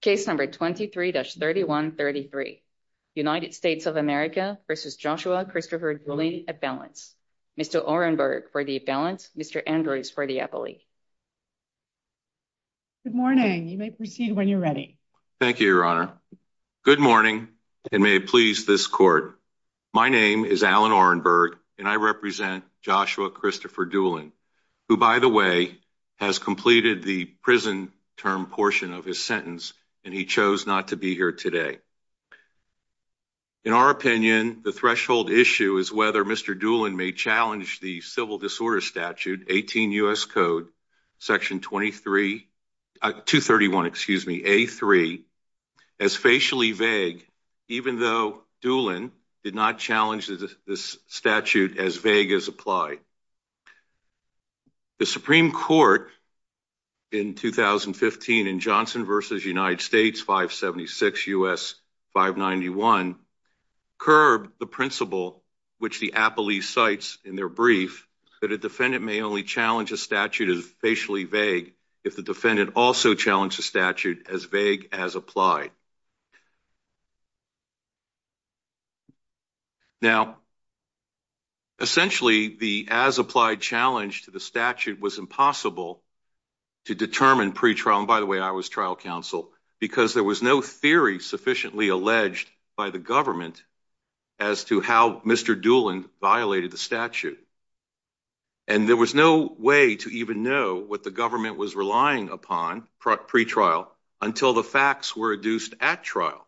Case number 23-3133, United States of America v. Joshua Christopher Doolin, at balance. Mr. Orenberg for the balance, Mr. Andrews for the appellee. Good morning. You may proceed when you're ready. Thank you, Your Honor. Good morning, and may it please this court. My name is Alan Orenberg, and I represent Joshua Christopher Doolin, who, by the way, has completed the prison term portion of his sentence, and he chose not to be here today. In our opinion, the threshold issue is whether Mr. Doolin may challenge the Civil Disorders Statute 18 U.S. Code Section 23, 231, excuse me, A3, as facially vague, even though Doolin did not challenge this statute as vague as applied. The Supreme Court in 2015, in Johnson v. United States 576 U.S. 591, curbed the principle, which the appellee cites in their brief, that a defendant may only challenge a statute as facially vague if the defendant also challenged the statute as vague as applied. Now, essentially, the as-applied challenge to the statute was impossible to determine pre-trial, and by the way, I was trial counsel, because there was no theory sufficiently alleged by the government as to how Mr. Doolin violated the statute, and there was no way to even know what the government was relying upon pre-trial until the facts were adduced at trial,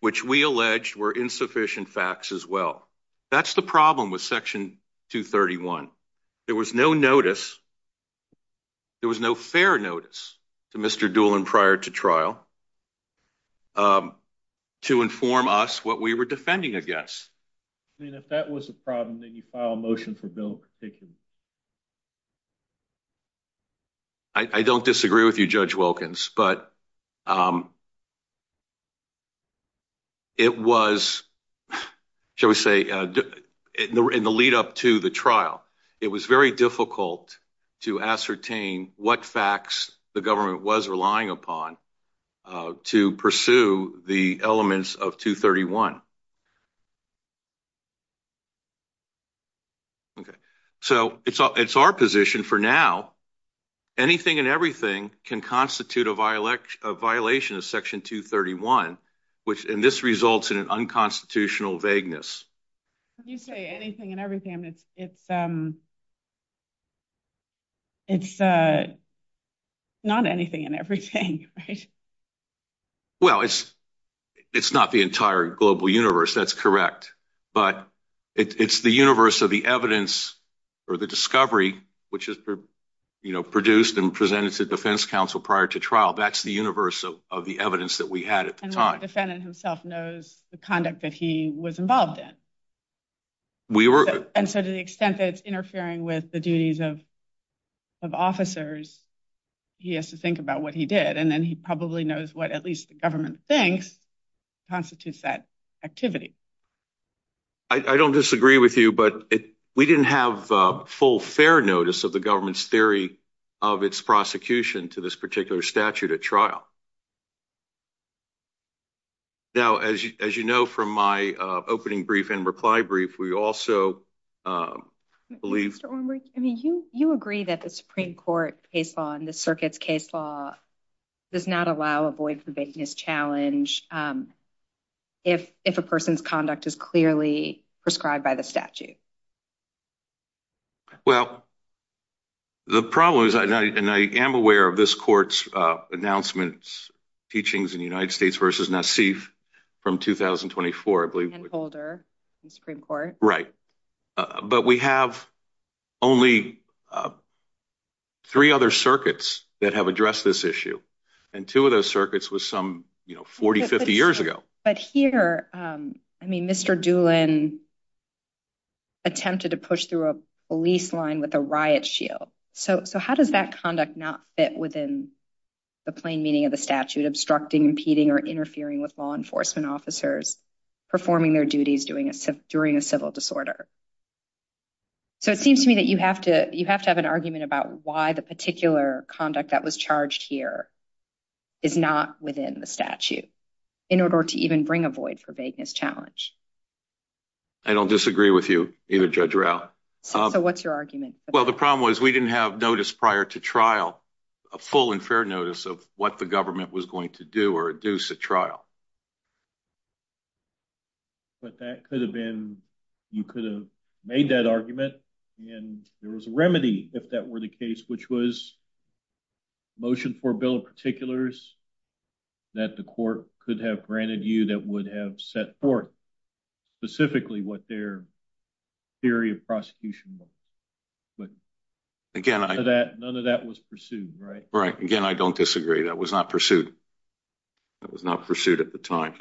which we alleged were insufficient facts as well. That's the problem with Section 231. There was no notice. There was no fair notice to Mr. Doolin prior to trial to inform us what we were defending against. And if that was a problem, then you file a motion for Bill to take it. I don't disagree with you, Judge Wilkins, but it was, shall we say, in the lead up to the trial, it was very difficult to ascertain what facts the government was relying upon to pursue the elements of 231. Okay, so it's our position for now, anything and everything can constitute a violation of Section 231, and this results in an unconstitutional vagueness. When you say anything and everything, I mean, it's not anything and everything, right? Well, it's not the entire global universe. That's correct. But it's the universe of the evidence or the discovery, which is produced and presented to defense counsel prior to trial. That's the universe of the evidence that we had at the time. And the defendant himself knows the conduct that he was involved in. And so to the extent that it's interfering with the duties of officers, he has to think about what he did. And then he probably knows what at least the government thinks constitutes that activity. I don't disagree with you, but we didn't have full fair notice of the government's theory of its prosecution to this particular statute at trial. Now, as you know, from my opening brief and reply brief, we also believe... You agree that the Supreme Court case law and the circuit's case law does not allow a void vagueness challenge if a person's conduct is clearly prescribed by the statute. Well, the problem is, and I am aware of this court's announcement, teachings in the United States versus Nassif from 2024, I believe. And Holder in the Supreme Court. Right. But we have only three other circuits that have addressed this issue. And two of those circuits was some 40, 50 years ago. But here, I mean, Mr. Doolin attempted to push through a police line with a riot shield. So how does that conduct not fit within the plain meaning of the statute, obstructing, impeding, or interfering with law enforcement officers performing their duties during a civil disorder? So it seems to me that you have to have an argument about why the particular conduct that was charged here is not within the statute in order to even bring a void for vagueness challenge. I don't disagree with you either, Judge Rao. So what's your argument? Well, the problem was we didn't have notice prior to trial, a full and fair notice of what the government was going to do or induce a trial. But that could have been... You could have made that argument and there was a remedy if that were the case, which was motion for a bill of particulars that the court could have granted you that would have set forth specifically what their theory of prosecution was. But none of that was pursued, right? Right. Again, I don't disagree. That was not pursued. That was not pursued at the time.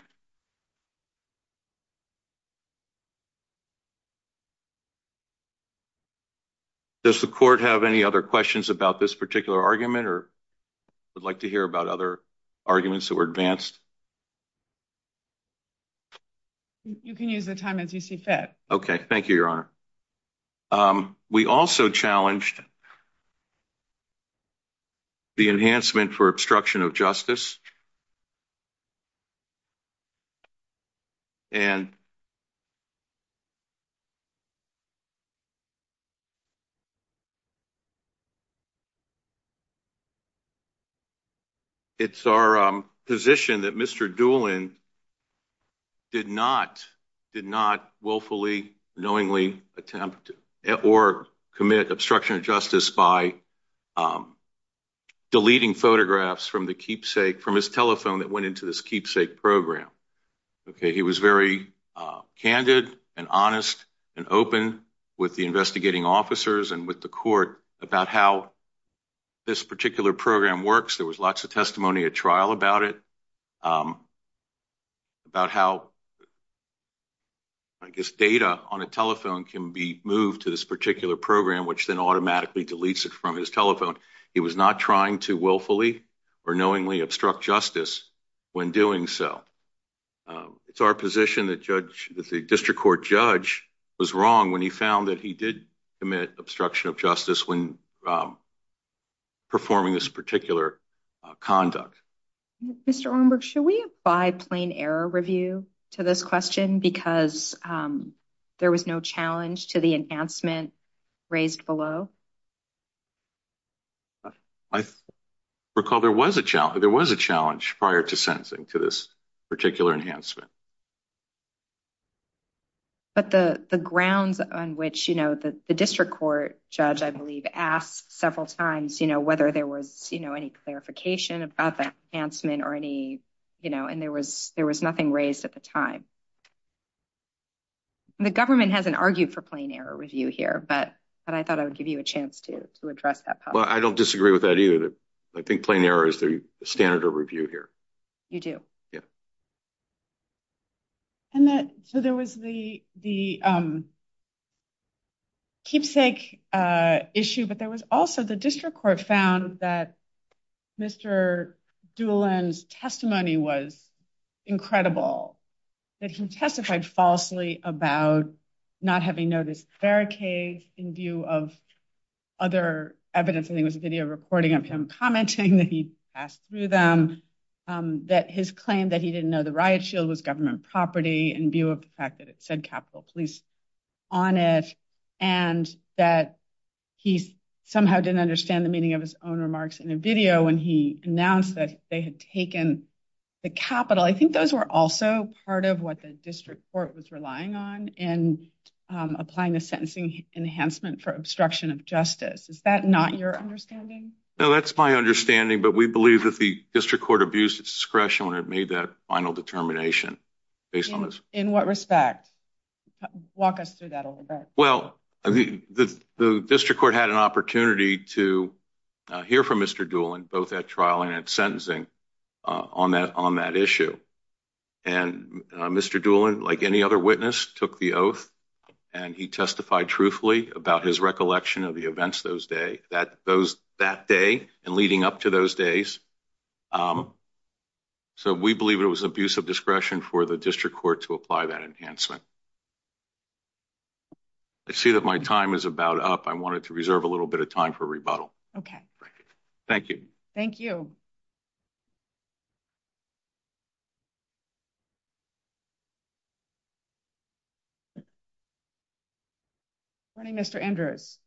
Does the court have any other questions about this particular argument or would like to hear about other arguments that were advanced? You can use the time as you see fit. Okay. Thank you, Your Honor. We also challenged the enhancement for obstruction of justice and it's our position that Mr. Doolin did not willfully, knowingly attempt or commit obstruction of justice by deleting photographs from the keepsake, from his telephone that went into this keepsake program. Okay. He was very candid and honest and open with the investigating officers and with the court about how this particular program works. There was lots of testimony at trial about it, about how, I guess, data on a telephone can be moved to this particular program, which then automatically deletes it from his telephone. He was not trying to willfully or knowingly obstruct justice when doing so. It's our position that the district court judge was wrong when he found that he did commit obstruction of justice when performing this particular conduct. Mr. Ornberg, should we abide plain error review to this question because there was no challenge to the enhancement raised below? I recall there was a challenge. There was a challenge prior to sentencing to this particular enhancement. But the grounds on which, you know, the district court judge, I believe, asked several times, you know, whether there was, you know, any clarification about that enhancement or any, you know, and there was nothing raised at the time. The government hasn't argued for plain error review here, but I thought I would give you a chance to address that. Well, I don't disagree with that either. I think plain error is the standard of review here. You do? Yeah. So there was the keepsake issue, but there was also the district court found that Mr. Doolan's testimony was incredible, that he testified falsely about not having noticed barricades in view of other evidence. I think it was a video recording of him commenting that he passed through them, that his claim that he didn't know the riot shield was government property in view of the fact that it said Capitol Police on it, and that he somehow didn't understand the meaning of his own remarks in a video when he announced that they had taken the Capitol. I think those were also part of what the district court was relying on in applying the sentencing enhancement for obstruction of justice. Is that not your understanding? No, that's my understanding, but we believe that the district court abused its discretion when it made that final determination based on this. In what respect? Walk us through that a little bit. Well, the district court had an opportunity to hear from Mr. Doolan both at sentencing on that issue, and Mr. Doolan, like any other witness, took the oath and he testified truthfully about his recollection of the events that day and leading up to those days. So we believe it was abuse of discretion for the district court to apply that enhancement. I see that my time is about up. I wanted to reserve a little bit of time for rebuttal. Okay, thank you. Thank you. Good morning, Mr. Andrews.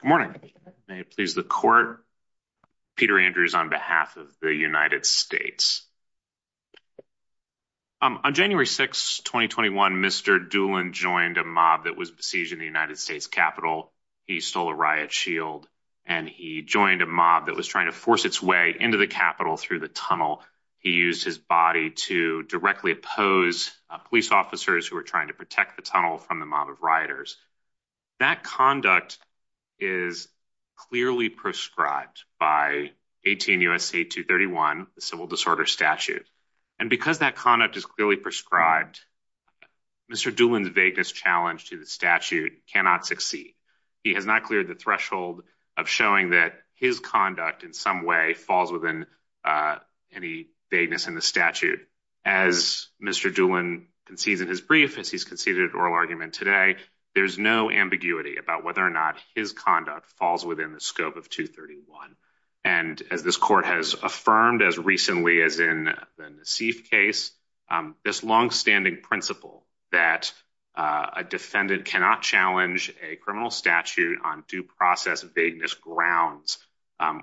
Good morning. May it please the court, Peter Andrews on behalf of the United States. On January 6, 2021, Mr. Doolan joined a mob that was besieged in the United States Capitol. He stole a riot shield, and he joined a mob that was trying to force its way into the Capitol through the tunnel. He used his body to directly oppose police officers who were trying to protect the tunnel from the mob of rioters. That conduct is clearly prescribed by 18 U.S.C. 231, the Civil Disorder Statute. And because that conduct is clearly prescribed, Mr. Doolan's vagueness challenge to the statute cannot succeed. He has not cleared the threshold of showing that his conduct in some way falls within any vagueness in the statute. As Mr. Doolan concedes in his brief, as he's conceded oral argument today, there's no ambiguity about whether or not his conduct falls within the scope of 231. And as this court has affirmed as recently as in the Nassif case, this longstanding principle that a defendant cannot challenge a criminal statute on due process vagueness grounds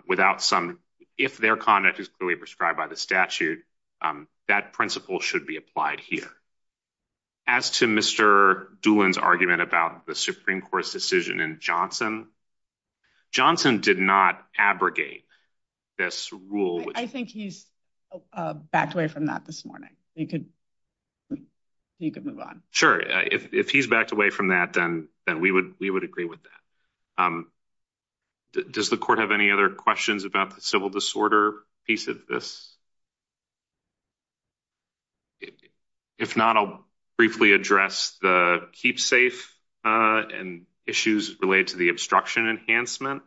without some, if their conduct is clearly prescribed by the statute, that principle should be applied here. As to Mr. Doolan's argument about the Supreme Court's decision in Johnson, Johnson did not abrogate this rule. I think he's backed away from that this morning. You could move on. Sure. If he's backed away from that, then we would agree with that. Does the court have any other questions about the civil disorder piece of this? If not, I'll briefly address the keep safe and issues related to the obstruction enhancement.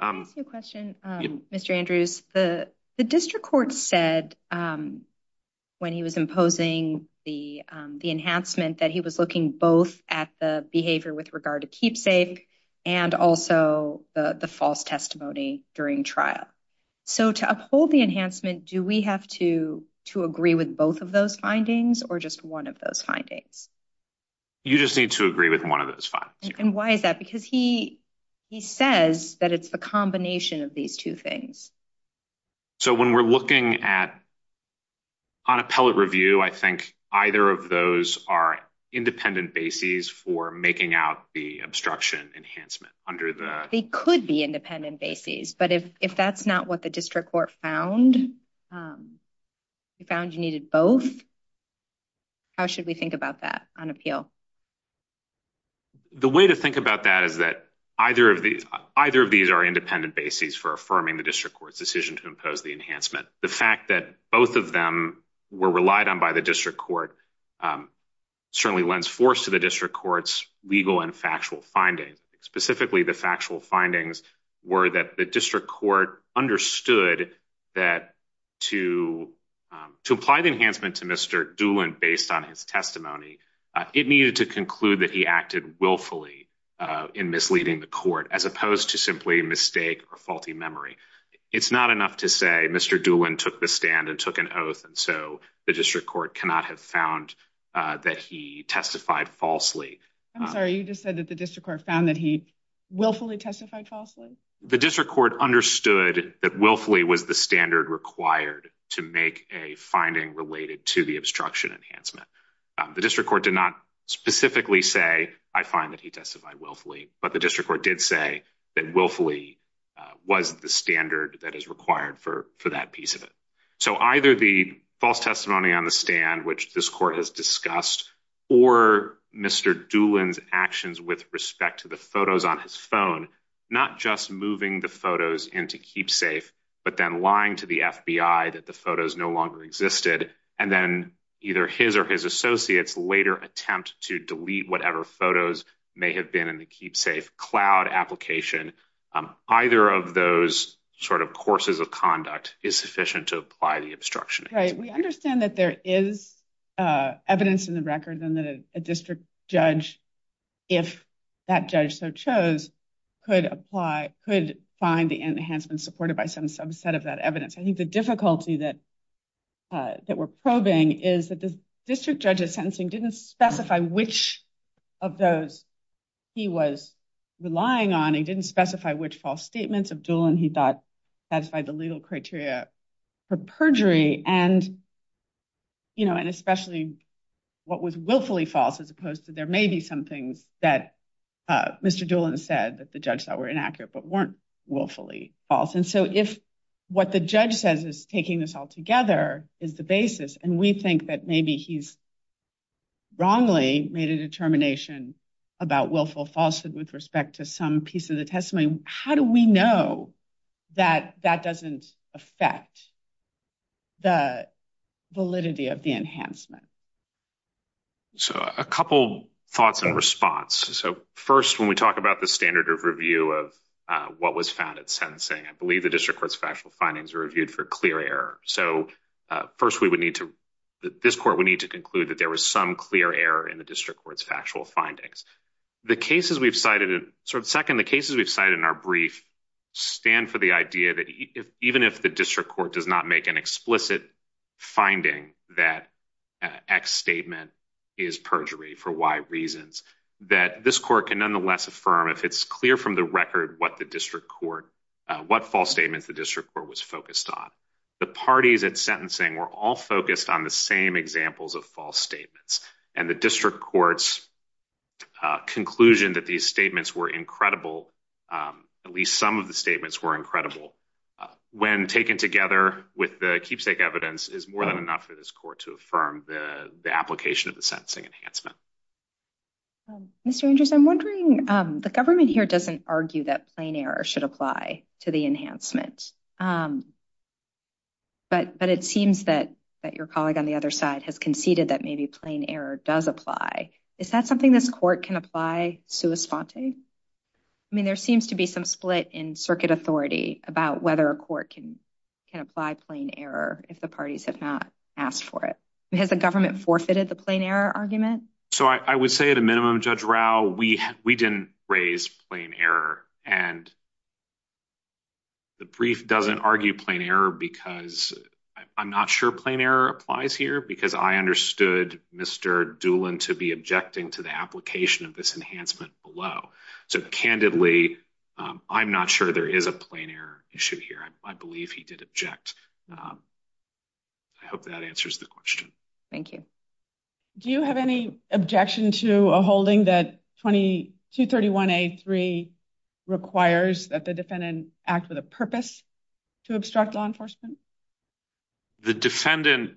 I have a question, Mr. Andrews. The district court said when he was imposing the enhancement that he was looking both at the behavior with regard to keep safe and also the false testimony during trial. So to uphold the enhancement, do we have to agree with both of those findings or just one of those findings? You just need to agree with one of those And why is that? Because he, he says that it's the combination of these two things. So when we're looking at on appellate review, I think either of those are independent bases for making out the obstruction enhancement under the, they could be independent bases. But if, if that's not what the district court found, we found you needed both. How should we think about that on appeal? The way to think about that is that either of these, either of these are independent bases for affirming the district court's decision to impose the enhancement. The fact that both of them were relied on by the district court, certainly lends force to the district court's legal and factual findings. Specifically, the factual findings were that the district court understood that to, to apply the enhancement to Mr. Doolin based on his testimony, it needed to conclude that he acted willfully in misleading the court as opposed to simply mistake or faulty memory. It's not enough to say Mr. Doolin took the stand and took an oath. And so the district court cannot have found that he testified falsely. I'm sorry, you just said that the district court found that he willfully testified falsely? The district court understood that willfully was the standard required to make a finding related to the obstruction enhancement. The district court did not specifically say I find that he testified willfully, but the district court did say that willfully was the standard that is required for, for that piece of it. So either the false testimony on the stand, which this court has discussed, or Mr. Doolin's actions with respect to the photos on his phone, not just moving the photos into KeepSafe, but then lying to the FBI that the photos no longer existed. And then either his or his associates later attempt to delete whatever photos may have been in the KeepSafe cloud application. Either of those sort of courses of conduct is sufficient to apply the obstruction. Right. We understand that there is evidence in the record and that a district judge, if that judge so chose, could apply, could find the enhancement supported by some subset of that evidence. I think the difficulty that we're probing is that the district judge's sentencing didn't specify which of those he was relying on. He didn't specify which false statements of Doolin he thought satisfied the legal criteria for perjury and, you know, and especially what was willfully false, as opposed to there may be some things that Mr. Doolin said that the judge thought were inaccurate, but weren't willfully false. And so if what the judge says is taking this all together is the basis, and we think that maybe he's wrongly made a determination about willful falsehood with respect to some piece of the testimony, how do we know that that doesn't affect the validity of the enhancement? So a couple thoughts in response. So first, when we talk about the standard of review of what was found at sentencing, I believe the district court's factual findings were reviewed for clear error. So first we would need to, this court would need conclude that there was some clear error in the district court's factual findings. The cases we've cited, sort of second, the cases we've cited in our brief stand for the idea that even if the district court does not make an explicit finding that X statement is perjury for Y reasons, that this court can nonetheless affirm if it's clear from the record what the district court, what false statements the district court was focused on. The parties at sentencing were all focused on the same examples of false statements. And the district court's conclusion that these statements were incredible, at least some of the statements were incredible, when taken together with the keepsake evidence is more than enough for this court to affirm the application of the sentencing enhancement. Mr. Andrews, I'm wondering, the government doesn't argue that plain error should apply to the enhancement, but it seems that your colleague on the other side has conceded that maybe plain error does apply. Is that something this court can apply sua sponte? I mean, there seems to be some split in circuit authority about whether a court can apply plain error if the parties have not asked for it. Has the government forfeited the plain error argument? So I would say at a minimum, Judge Rao, we didn't raise plain error. And the brief doesn't argue plain error because I'm not sure plain error applies here because I understood Mr. Doolan to be objecting to the application of this enhancement below. So candidly, I'm not sure there is a plain error issue here. I believe he did object. I hope that answers the question. Thank you. Do you have any objection to a holding that 231A3 requires that the defendant act with a purpose to obstruct law enforcement? The defendant,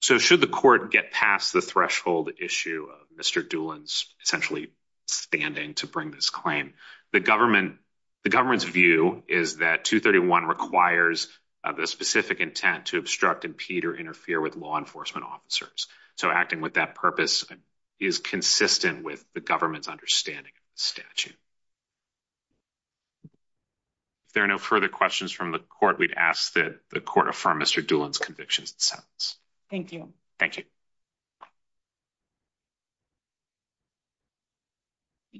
so should the court get past the threshold issue of Mr. Doolan's essentially standing to bring this claim, the government's view is that 231 requires the specific intent to obstruct, impede, or interfere with law enforcement officers. So acting with that purpose is consistent with the government's understanding of the statute. If there are no further questions from the court, we'd ask that the court affirm Mr. Doolan's convictions and sentence. Thank you. Thank you.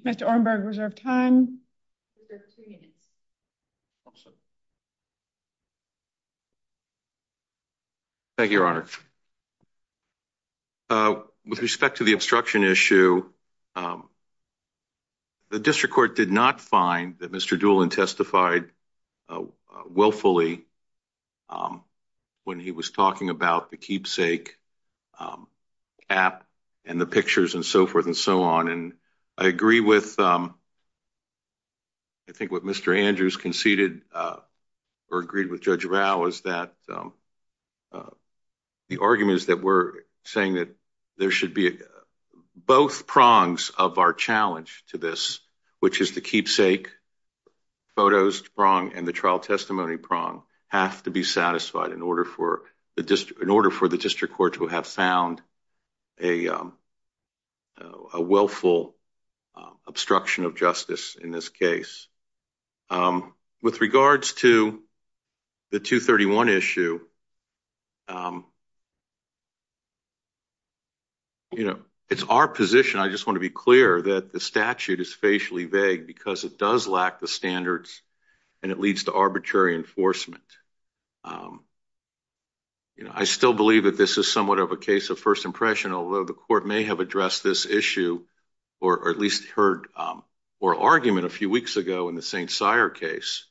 Mr. Orenberg, reserve time. Thank you, Your Honor. With respect to the obstruction issue, the district court did not find that Mr. Doolan testified willfully when he was talking about the keepsake app and the pictures and so forth and so on. And I agree with I think what Mr. Andrews conceded or agreed with Judge Rao is that the argument is that we're saying that there should be both prongs of our challenge to this, which is the keepsake photos prong and the trial testimony prong have to be satisfied in order for the district, in order for the district court to have found a willful obstruction of justice in this case. With regards to the 231 issue, you know, it's our position. I just want to be clear that the statute is facially vague because it does lack the standards and it leads to arbitrary enforcement. You know, I still believe that this is somewhat of a case of first impression, although the court may have addressed this issue or at least heard or argument a few weeks ago in the St. Cyr case.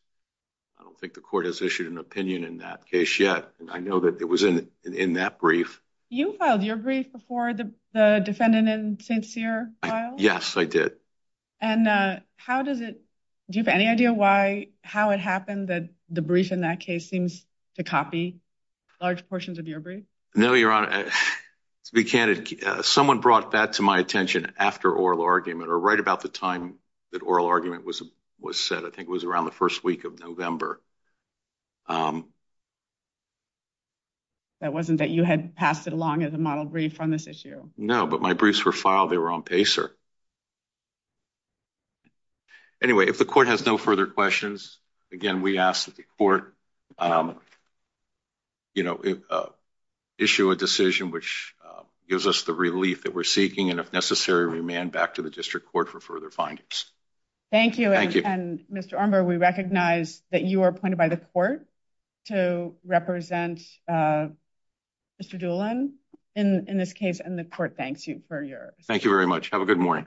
I don't think the court has issued an opinion in that case yet. I know that it was in that brief. You filed your brief before the defendant in St. Cyr filed? Yes, I did. And how does it, do you have any idea why, how it happened that the brief in that case seems to copy large portions of your brief? No, Your Honor, to be candid, someone brought that to my attention after oral argument or right about the time that oral argument was said. I think it was around the first week of November. That wasn't that you had passed it along as a model brief on this issue? No, but my briefs were filed, they were on PACER. Anyway, if the court has no further questions, again, we ask that the court, you know, issue a decision which gives us the relief that we're seeking and if necessary, remand back to the district court for further findings. Thank you. And Mr. Armbar, we recognize that you are appointed by the court to represent Mr. Doolin in this case and the court thanks you for your... Thank you very much. Have a good morning.